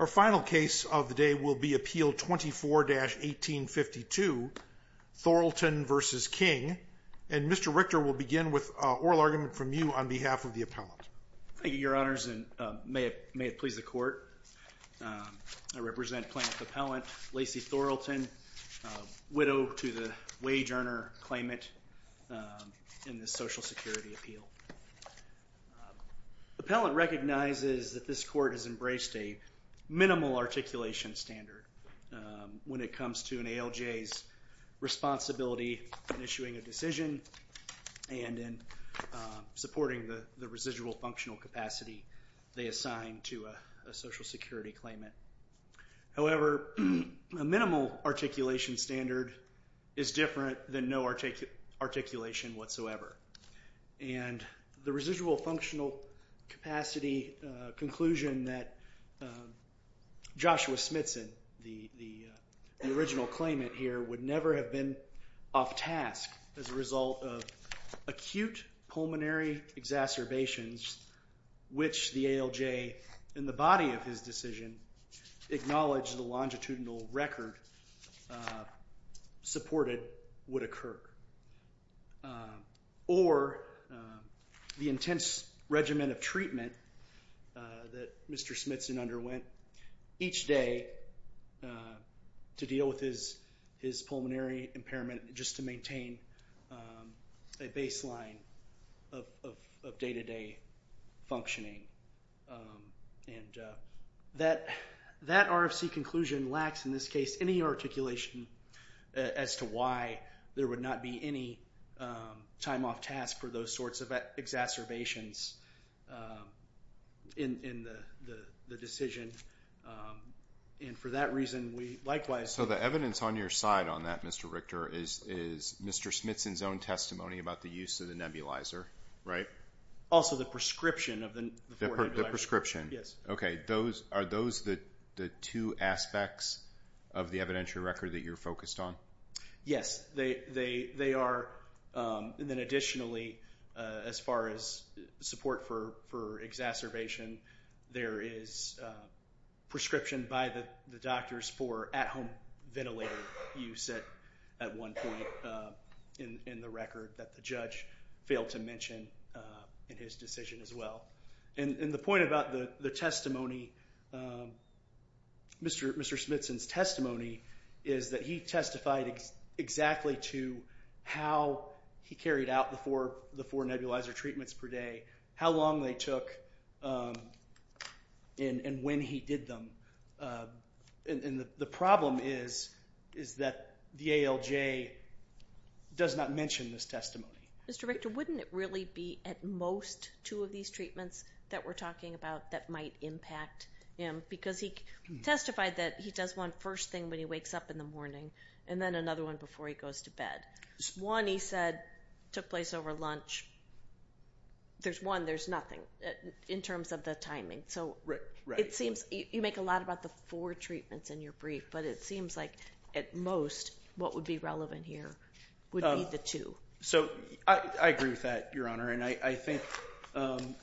Our final case of the day will be Appeal 24-1852. Thorlton v. King and Mr. Richter will begin with oral argument from you on behalf of the appellant. Thank you, your honors, and may it please the court, I represent plaintiff appellant Lacey Thorlton, widow to the wage earner claimant in the Social Security Appeal. Appellant recognizes that this court has embraced a minimal articulation standard when it comes to an ALJ's responsibility in issuing a decision and in supporting the residual functional capacity they assign to a Social Security claimant. However, a minimal articulation standard is different than no articulation whatsoever. And the residual functional capacity conclusion that Joshua Smithson, the original claimant here, would never have been off task as a result of acute pulmonary exacerbations which the ALJ in the body of his decision acknowledged the longitudinal record supported would occur. Or the intense regimen of treatment that Mr. Smithson underwent each day to deal with his pulmonary impairment just to maintain a baseline of day-to-day functioning. And that RFC conclusion lacks in this case any articulation as to why there would not be any time off task for those sorts of exacerbations in the decision and for that reason we likewise So the evidence on your side on that, Mr. Richter, is Mr. Smithson's own testimony about the use of the nebulizer, right? Also the prescription of the nebulizer. The prescription. Yes. Okay. Are those the two aspects of the evidentiary record that you're focused on? Yes. They are. And then additionally, as far as support for exacerbation, there is prescription by the doctors for at-home ventilator use at one point in the record that the judge failed to mention in his decision as well. And the point about the testimony, Mr. Smithson's testimony, is that he testified exactly to how he carried out the four nebulizer treatments per day, how long they took, and when he did them. And the problem is that the ALJ does not mention this testimony. Mr. Richter, wouldn't it really be at most two of these treatments that we're talking about that might impact him? Because he testified that he does one first thing when he wakes up in the morning and then another one before he goes to bed. One he said took place over lunch. There's one, there's nothing in terms of the timing. So it seems... You make a lot about the four treatments in your brief, but it seems like at most what would be relevant here would be the two. So I agree with that, Your Honor. And I think,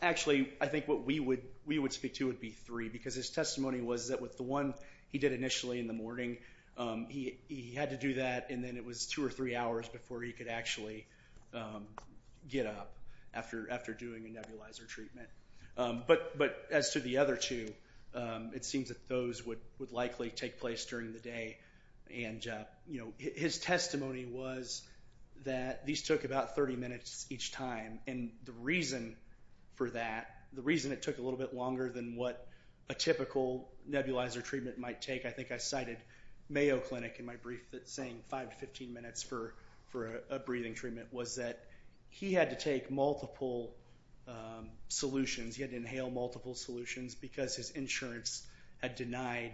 actually, I think what we would speak to would be three because his testimony was that with the one he did initially in the morning, he had to do that and then it was two or three hours before he could actually get up after doing a nebulizer treatment. But as to the other two, it seems that those would likely take place during the day. And his testimony was that these took about 30 minutes each time. And the reason for that, the reason it took a little bit longer than what a typical nebulizer treatment might take, I think I cited Mayo Clinic in my brief that's saying 5 to 15 minutes for a breathing treatment, was that he had to take multiple solutions, he had to inhale multiple solutions because his insurance had denied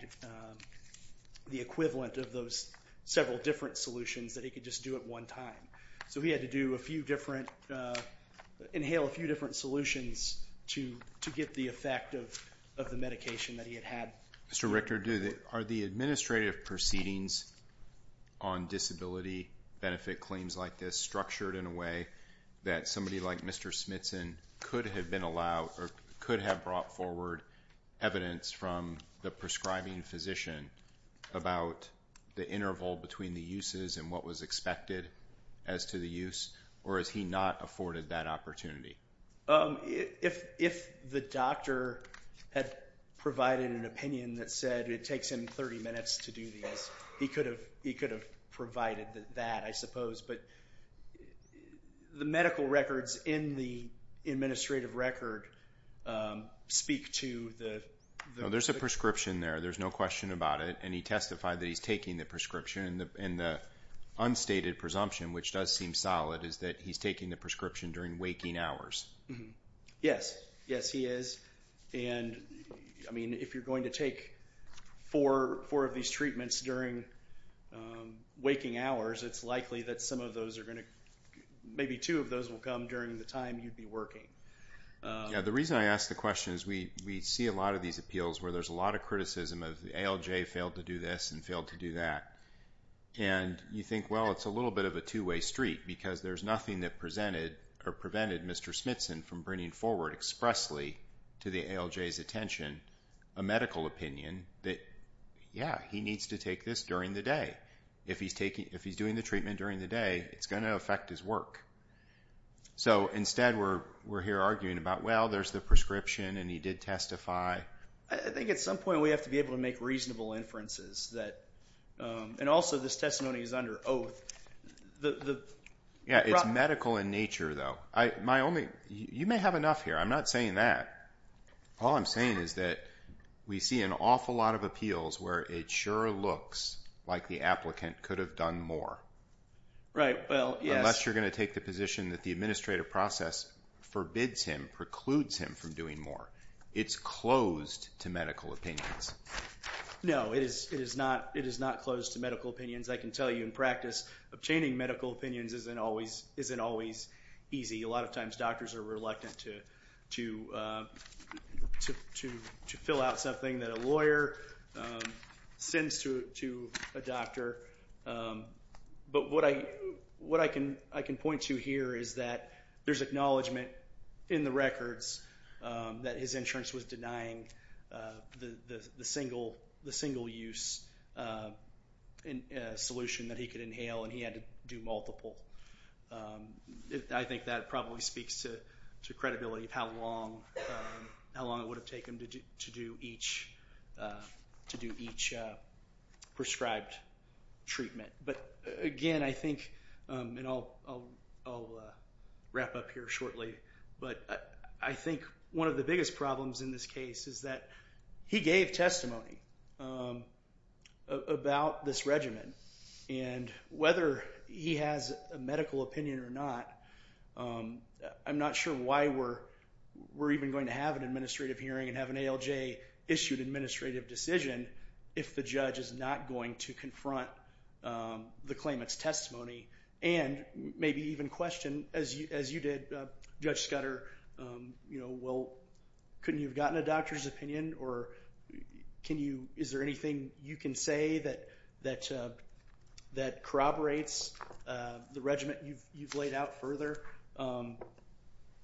the equivalent of those several different solutions that he could just do at one time. So he had to do a few different, inhale a few different solutions to get the effect of the medication that he had had. Mr. Richter, are the administrative proceedings on disability benefit claims like this structured in a way that somebody like Mr. Smithson could have been allowed or could have brought forward evidence from the prescribing physician about the interval between the uses and what was expected as to the use or has he not afforded that opportunity? If the doctor had provided an opinion that said it takes him 30 minutes to do this, he could have provided that, I suppose. But the medical records in the administrative record speak to the... There's a prescription there, there's no question about it, and he testified that he's taking the prescription. And the unstated presumption, which does seem solid, is that he's taking the prescription during waking hours. Yes, he is. And if you're going to take four of these treatments during waking hours, it's likely that some of those are going to... Maybe two of those will come during the time you'd be working. The reason I ask the question is we see a lot of these appeals where there's a lot of criticism of the ALJ failed to do this and failed to do that. And you think, well, it's a little bit of a two-way street because there's nothing that prevented Mr. Smithson from bringing forward expressly to the ALJ's attention a medical opinion that, yeah, he needs to take this during the day. If he's doing the treatment during the day, it's going to affect his work. So instead, we're here arguing about, well, there's the prescription and he did testify. I think at some point we have to be able to make reasonable inferences that... And also this testimony is under oath. Yeah, it's medical in nature, though. You may have enough here. I'm not saying that. All I'm saying is that we see an awful lot of appeals where it sure looks like the applicant could have done more, unless you're going to take the position that the administrative process forbids him, precludes him from doing more. It's closed to medical opinions. No, it is not closed to medical opinions. I can tell you in practice, obtaining medical opinions isn't always easy. A lot of times doctors are reluctant to fill out something that a lawyer sends to a doctor. But what I can point to here is that there's acknowledgement in the records that his insurance was denying the single use solution that he could inhale and he had to do multiple. I think that probably speaks to credibility of how long it would have taken him to do each prescribed treatment. But again, I think, and I'll wrap up here shortly. But I think one of the biggest problems in this case is that he gave testimony about this regimen. Whether he has a medical opinion or not, I'm not sure why we're even going to have an administrative hearing and have an ALJ issued administrative decision if the judge is not going to confront the claimant's testimony and maybe even question, as you did, Judge Scudder, well, couldn't you have gotten a doctor's opinion? Is there anything you can say that corroborates the regimen you've laid out further?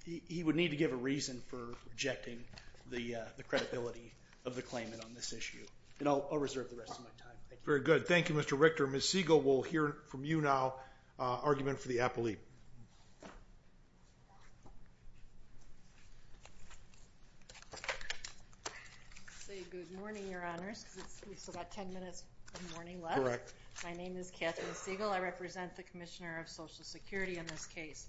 He would need to give a reason for rejecting the credibility of the claimant on this issue. And I'll reserve the rest of my time. Thank you. Very good. Thank you, Mr. Richter. Ms. Siegel will hear from you now. Argument for the appellee. Good morning, Your Honors. We've still got 10 minutes of morning left. Correct. My name is Catherine Siegel. I represent the Commissioner of Social Security in this case.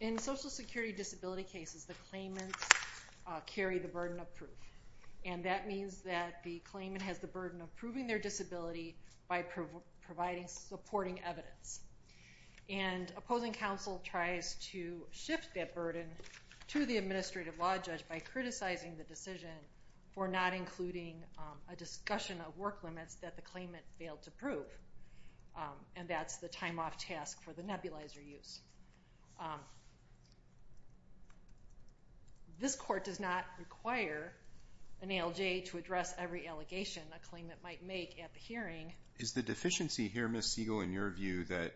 In Social Security disability cases, the claimants carry the burden of proof. And that means that the claimant has the burden of proving their disability by providing supporting evidence. And opposing counsel tries to shift that burden to the administrative law judge by criticizing the decision for not including a discussion of work limits that the claimant failed to prove. And that's the time off task for the nebulizer use. This court does not require an ALJ to address every allegation a claimant might make at the hearing. Is the deficiency here, Ms. Siegel, in your view that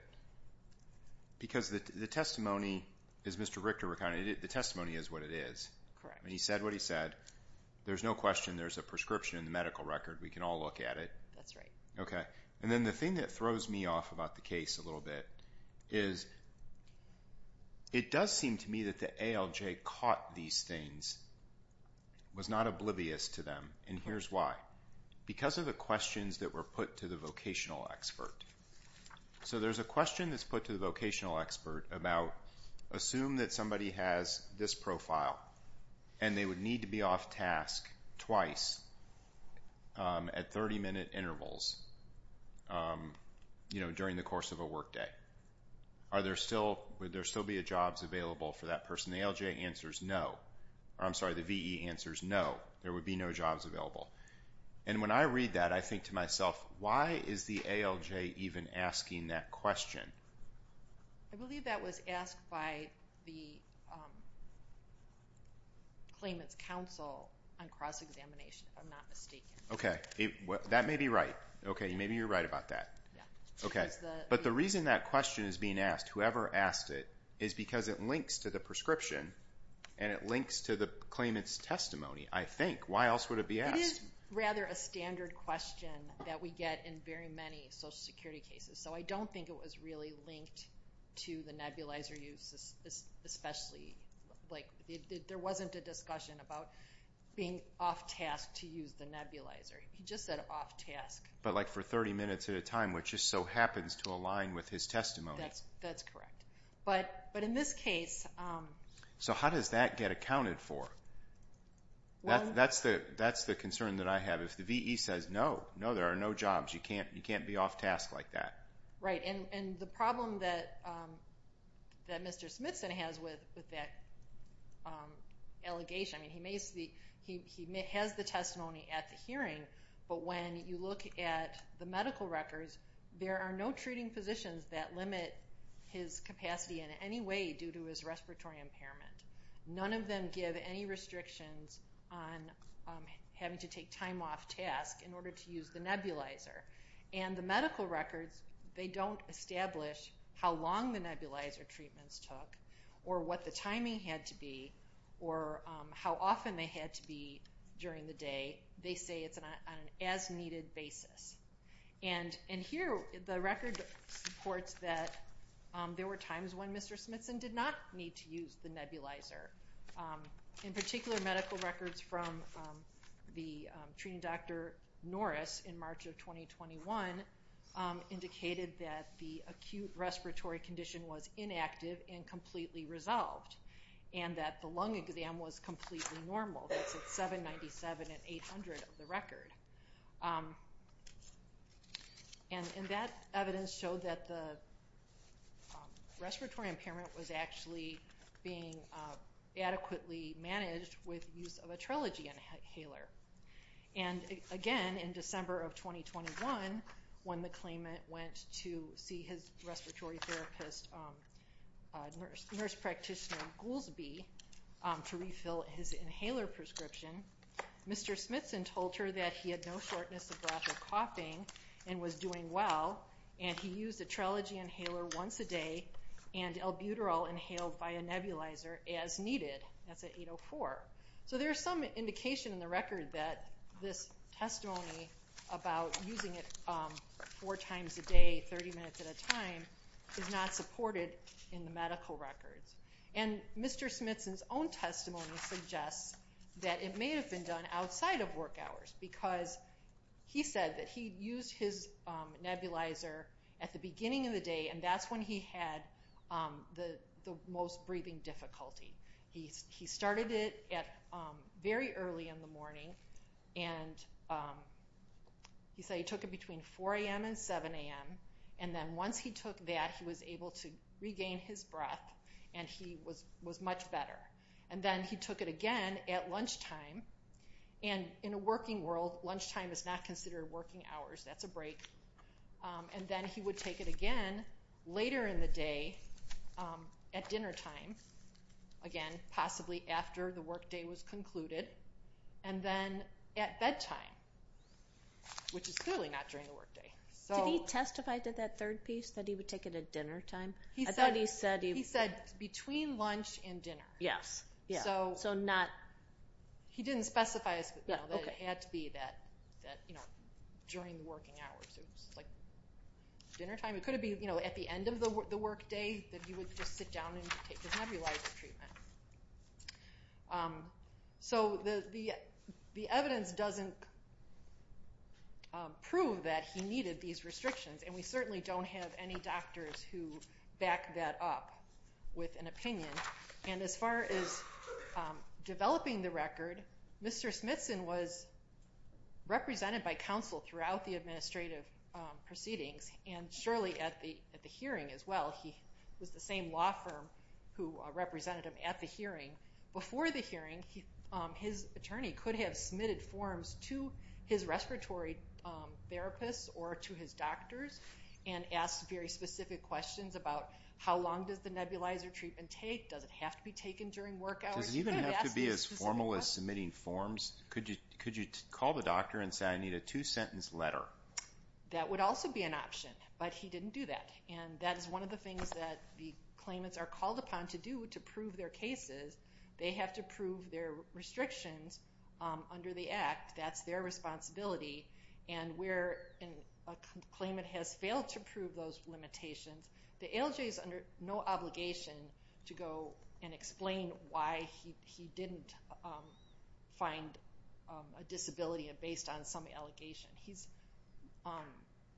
because the testimony is Mr. Richter recounted. The testimony is what it is. Correct. And he said what he said. There's no question there's a prescription in the medical record. We can all look at it. That's right. Okay. And then the thing that throws me off about the case a little bit is it does seem to me that the ALJ caught these things, was not oblivious to them. And here's why. Because of the questions that were put to the vocational expert. So there's a question that's put to the vocational expert about assume that somebody has this profile and they would need to be off task twice at 30 minute intervals, you know, during the course of a workday. Are there still, would there still be a jobs available for that person? The ALJ answers no. I'm sorry. The VE answers no. There would be no jobs available. And when I read that, I think to myself, why is the ALJ even asking that question? I believe that was asked by the claimant's counsel on cross-examination, if I'm not mistaken. Okay. That may be right. Okay. Maybe you're right about that. Yeah. Okay. But the reason that question is being asked, whoever asked it, is because it links to the prescription and it links to the claimant's testimony, I think. Why else would it be asked? It is rather a standard question that we get in very many social security cases. So I don't think it was really linked to the nebulizer use, especially, like, there wasn't a discussion about being off task to use the nebulizer. He just said off task. But like for 30 minutes at a time, which just so happens to align with his testimony. That's correct. But in this case... So how does that get accounted for? That's the concern that I have. If the VE says no, no, there are no jobs. You can't be off task like that. Right. And the problem that Mr. Smithson has with that allegation, I mean, he has the testimony at the hearing, but when you look at the medical records, there are no treating physicians that limit his capacity in any way due to his respiratory impairment. None of them give any restrictions on having to take time off task in order to use the nebulizer. And the medical records, they don't establish how long the nebulizer treatments took or what the timing had to be or how often they had to be during the day. They say it's on an as-needed basis. And here, the record reports that there were times when Mr. Smithson did not need to use the nebulizer. In particular, medical records from the treating Dr. Norris in March of 2021 indicated that the acute respiratory condition was inactive and completely resolved, and that the lung exam was completely normal. That's at 797 and 800 of the record. And that evidence showed that the respiratory impairment was actually being adequately managed with use of a trilogy inhaler. And again, in December of 2021, when the claimant went to see his respiratory therapist, nurse practitioner Goolsbee, to refill his inhaler prescription, Mr. Smithson told her that he had no shortness of breath or coughing and was doing well, and he used a trilogy inhaler once a day and albuterol inhaled via nebulizer as needed. That's at 804. So there's some indication in the record that this testimony about using it four times a day, 30 minutes at a time, is not supported in the medical records. And Mr. Smithson's own testimony suggests that it may have been done outside of work hours because he said that he used his nebulizer at the beginning of the day, and that's when he had the most breathing difficulty. He started it very early in the morning, and he said he took it between 4 a.m. and 7 a.m., and then once he took that, he was able to regain his breath, and he was much better. And then he took it again at lunchtime, and in a working world, lunchtime is not considered working hours. That's a break. And then he would take it again later in the day at dinnertime, again, possibly after the workday was concluded, and then at bedtime, which is clearly not during the workday. Did he testify to that third piece, that he would take it at dinnertime? I thought he said... He said between lunch and dinner. Yes. So not... He didn't specify that it had to be that, you know, during the working hours. It was, like, dinnertime. It could have been, you know, at the end of the workday, that he would just sit down and take his nebulizer treatment. So the evidence doesn't prove that he needed these restrictions, and we certainly don't have any doctors who back that up with an opinion. And as far as developing the record, Mr. Smithson was represented by counsel throughout the administrative proceedings, and surely at the hearing as well. He was the same law firm who represented him at the hearing. Before the hearing, his attorney could have submitted forms to his respiratory therapists or to his doctors and asked very specific questions about how long does the nebulizer treatment take? Does it have to be taken during work hours? Does it even have to be as formal as submitting forms? Could you call the doctor and say, I need a two-sentence letter? That would also be an option, but he didn't do that. And that is one of the things that the claimants are called upon to do to prove their cases. They have to prove their restrictions under the Act. That's their responsibility. And where a claimant has failed to prove those limitations, the ALJ is under no obligation to go and explain why he didn't find a disability based on some allegation. He's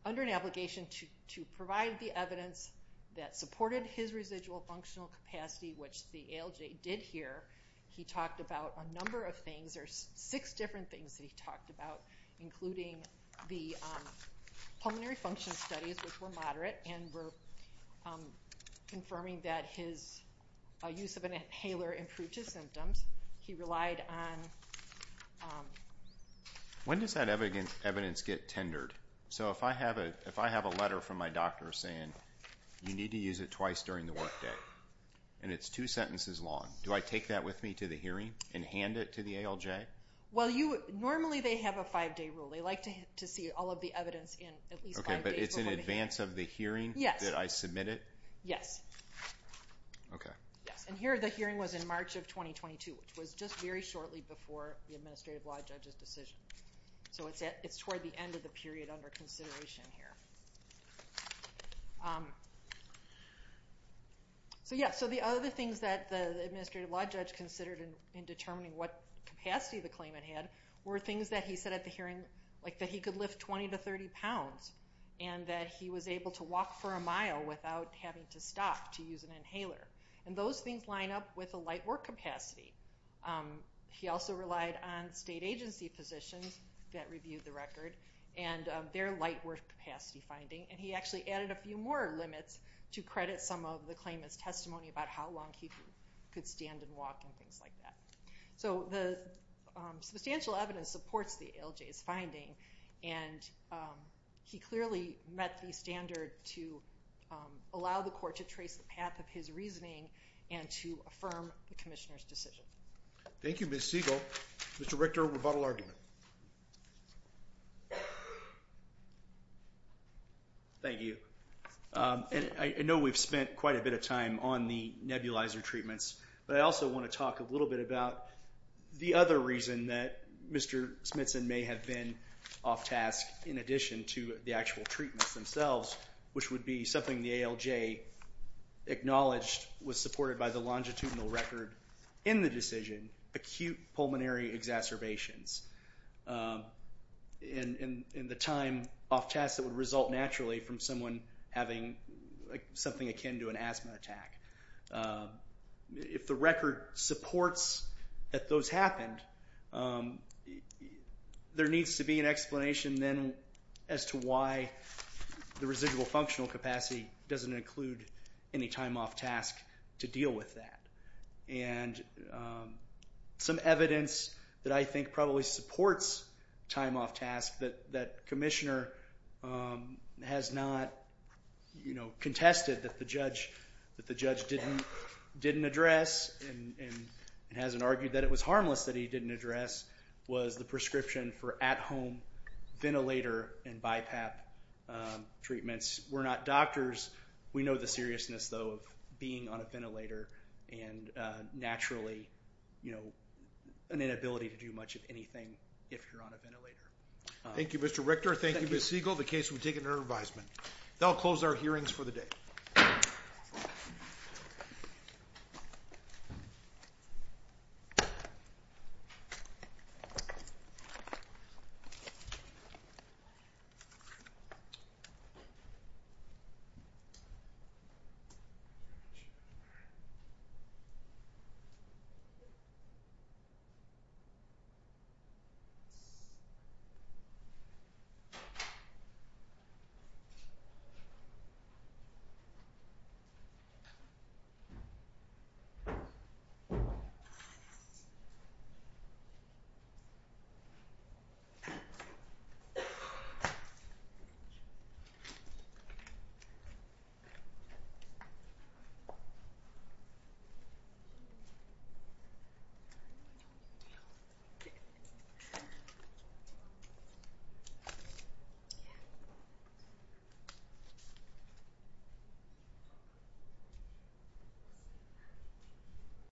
under an obligation to provide the evidence that supported his residual functional capacity, which the ALJ did hear. He talked about a number of things, there's six different things that he talked about, including the pulmonary function studies, which were moderate, and were confirming that his use of an inhaler improved his symptoms. He relied on... When does that evidence get tendered? So if I have a letter from my doctor saying, you need to use it twice during the work day, and it's two sentences long, do I take that with me to the hearing and hand it to the ALJ? Well, normally they have a five-day rule. They like to see all of the evidence in at least five days before the hearing. Okay, but it's in advance of the hearing that I submit it? Yes. Yes. And here the hearing was in March of 2022, which was just very shortly before the Administrative Law Judge's decision. So it's toward the end of the period under consideration here. So yeah, so the other things that the Administrative Law Judge considered in determining what capacity the claimant had were things that he said at the hearing, like that he could lift 20 to 30 pounds, and that he was able to walk for a mile without having to stop to use an inhaler. And those things line up with a light work capacity. He also relied on state agency positions that reviewed the record and their light work capacity finding. And he actually added a few more limits to credit some of the claimant's testimony about how long he could stand and walk and things like that. So the substantial evidence supports the ALJ's finding, and he clearly met the standard to allow the court to trace the path of his reasoning and to affirm the Commissioner's decision. Thank you, Ms. Siegel. Mr. Richter, rebuttal argument. Thank you. And I know we've spent quite a bit of time on the nebulizer treatments, but I also want to talk a little bit about the other reason that Mr. Smithson may have been off-task in addition to the actual treatments themselves, which would be something the ALJ acknowledged was supported by the longitudinal record in the decision, acute pulmonary exacerbations. In the time off-task, it would result naturally from someone having something akin to an asthma attack. If the record supports that those happened, there needs to be an explanation then as to why the residual functional capacity doesn't include any time off-task to deal with that. And some evidence that I think probably supports time off-task that Commissioner has not contested that the judge didn't address and hasn't argued that it was harmless that he didn't address was the prescription for at-home ventilator and BiPAP treatments. We're not doctors. We know the seriousness, though, of being on a ventilator and naturally, you know, an inability to do much of anything if you're on a ventilator. Thank you, Mr. Richter. Thank you, Ms. Siegel. The case will be taken under advisement. That'll close our hearings for the day. Thank you. Thank you.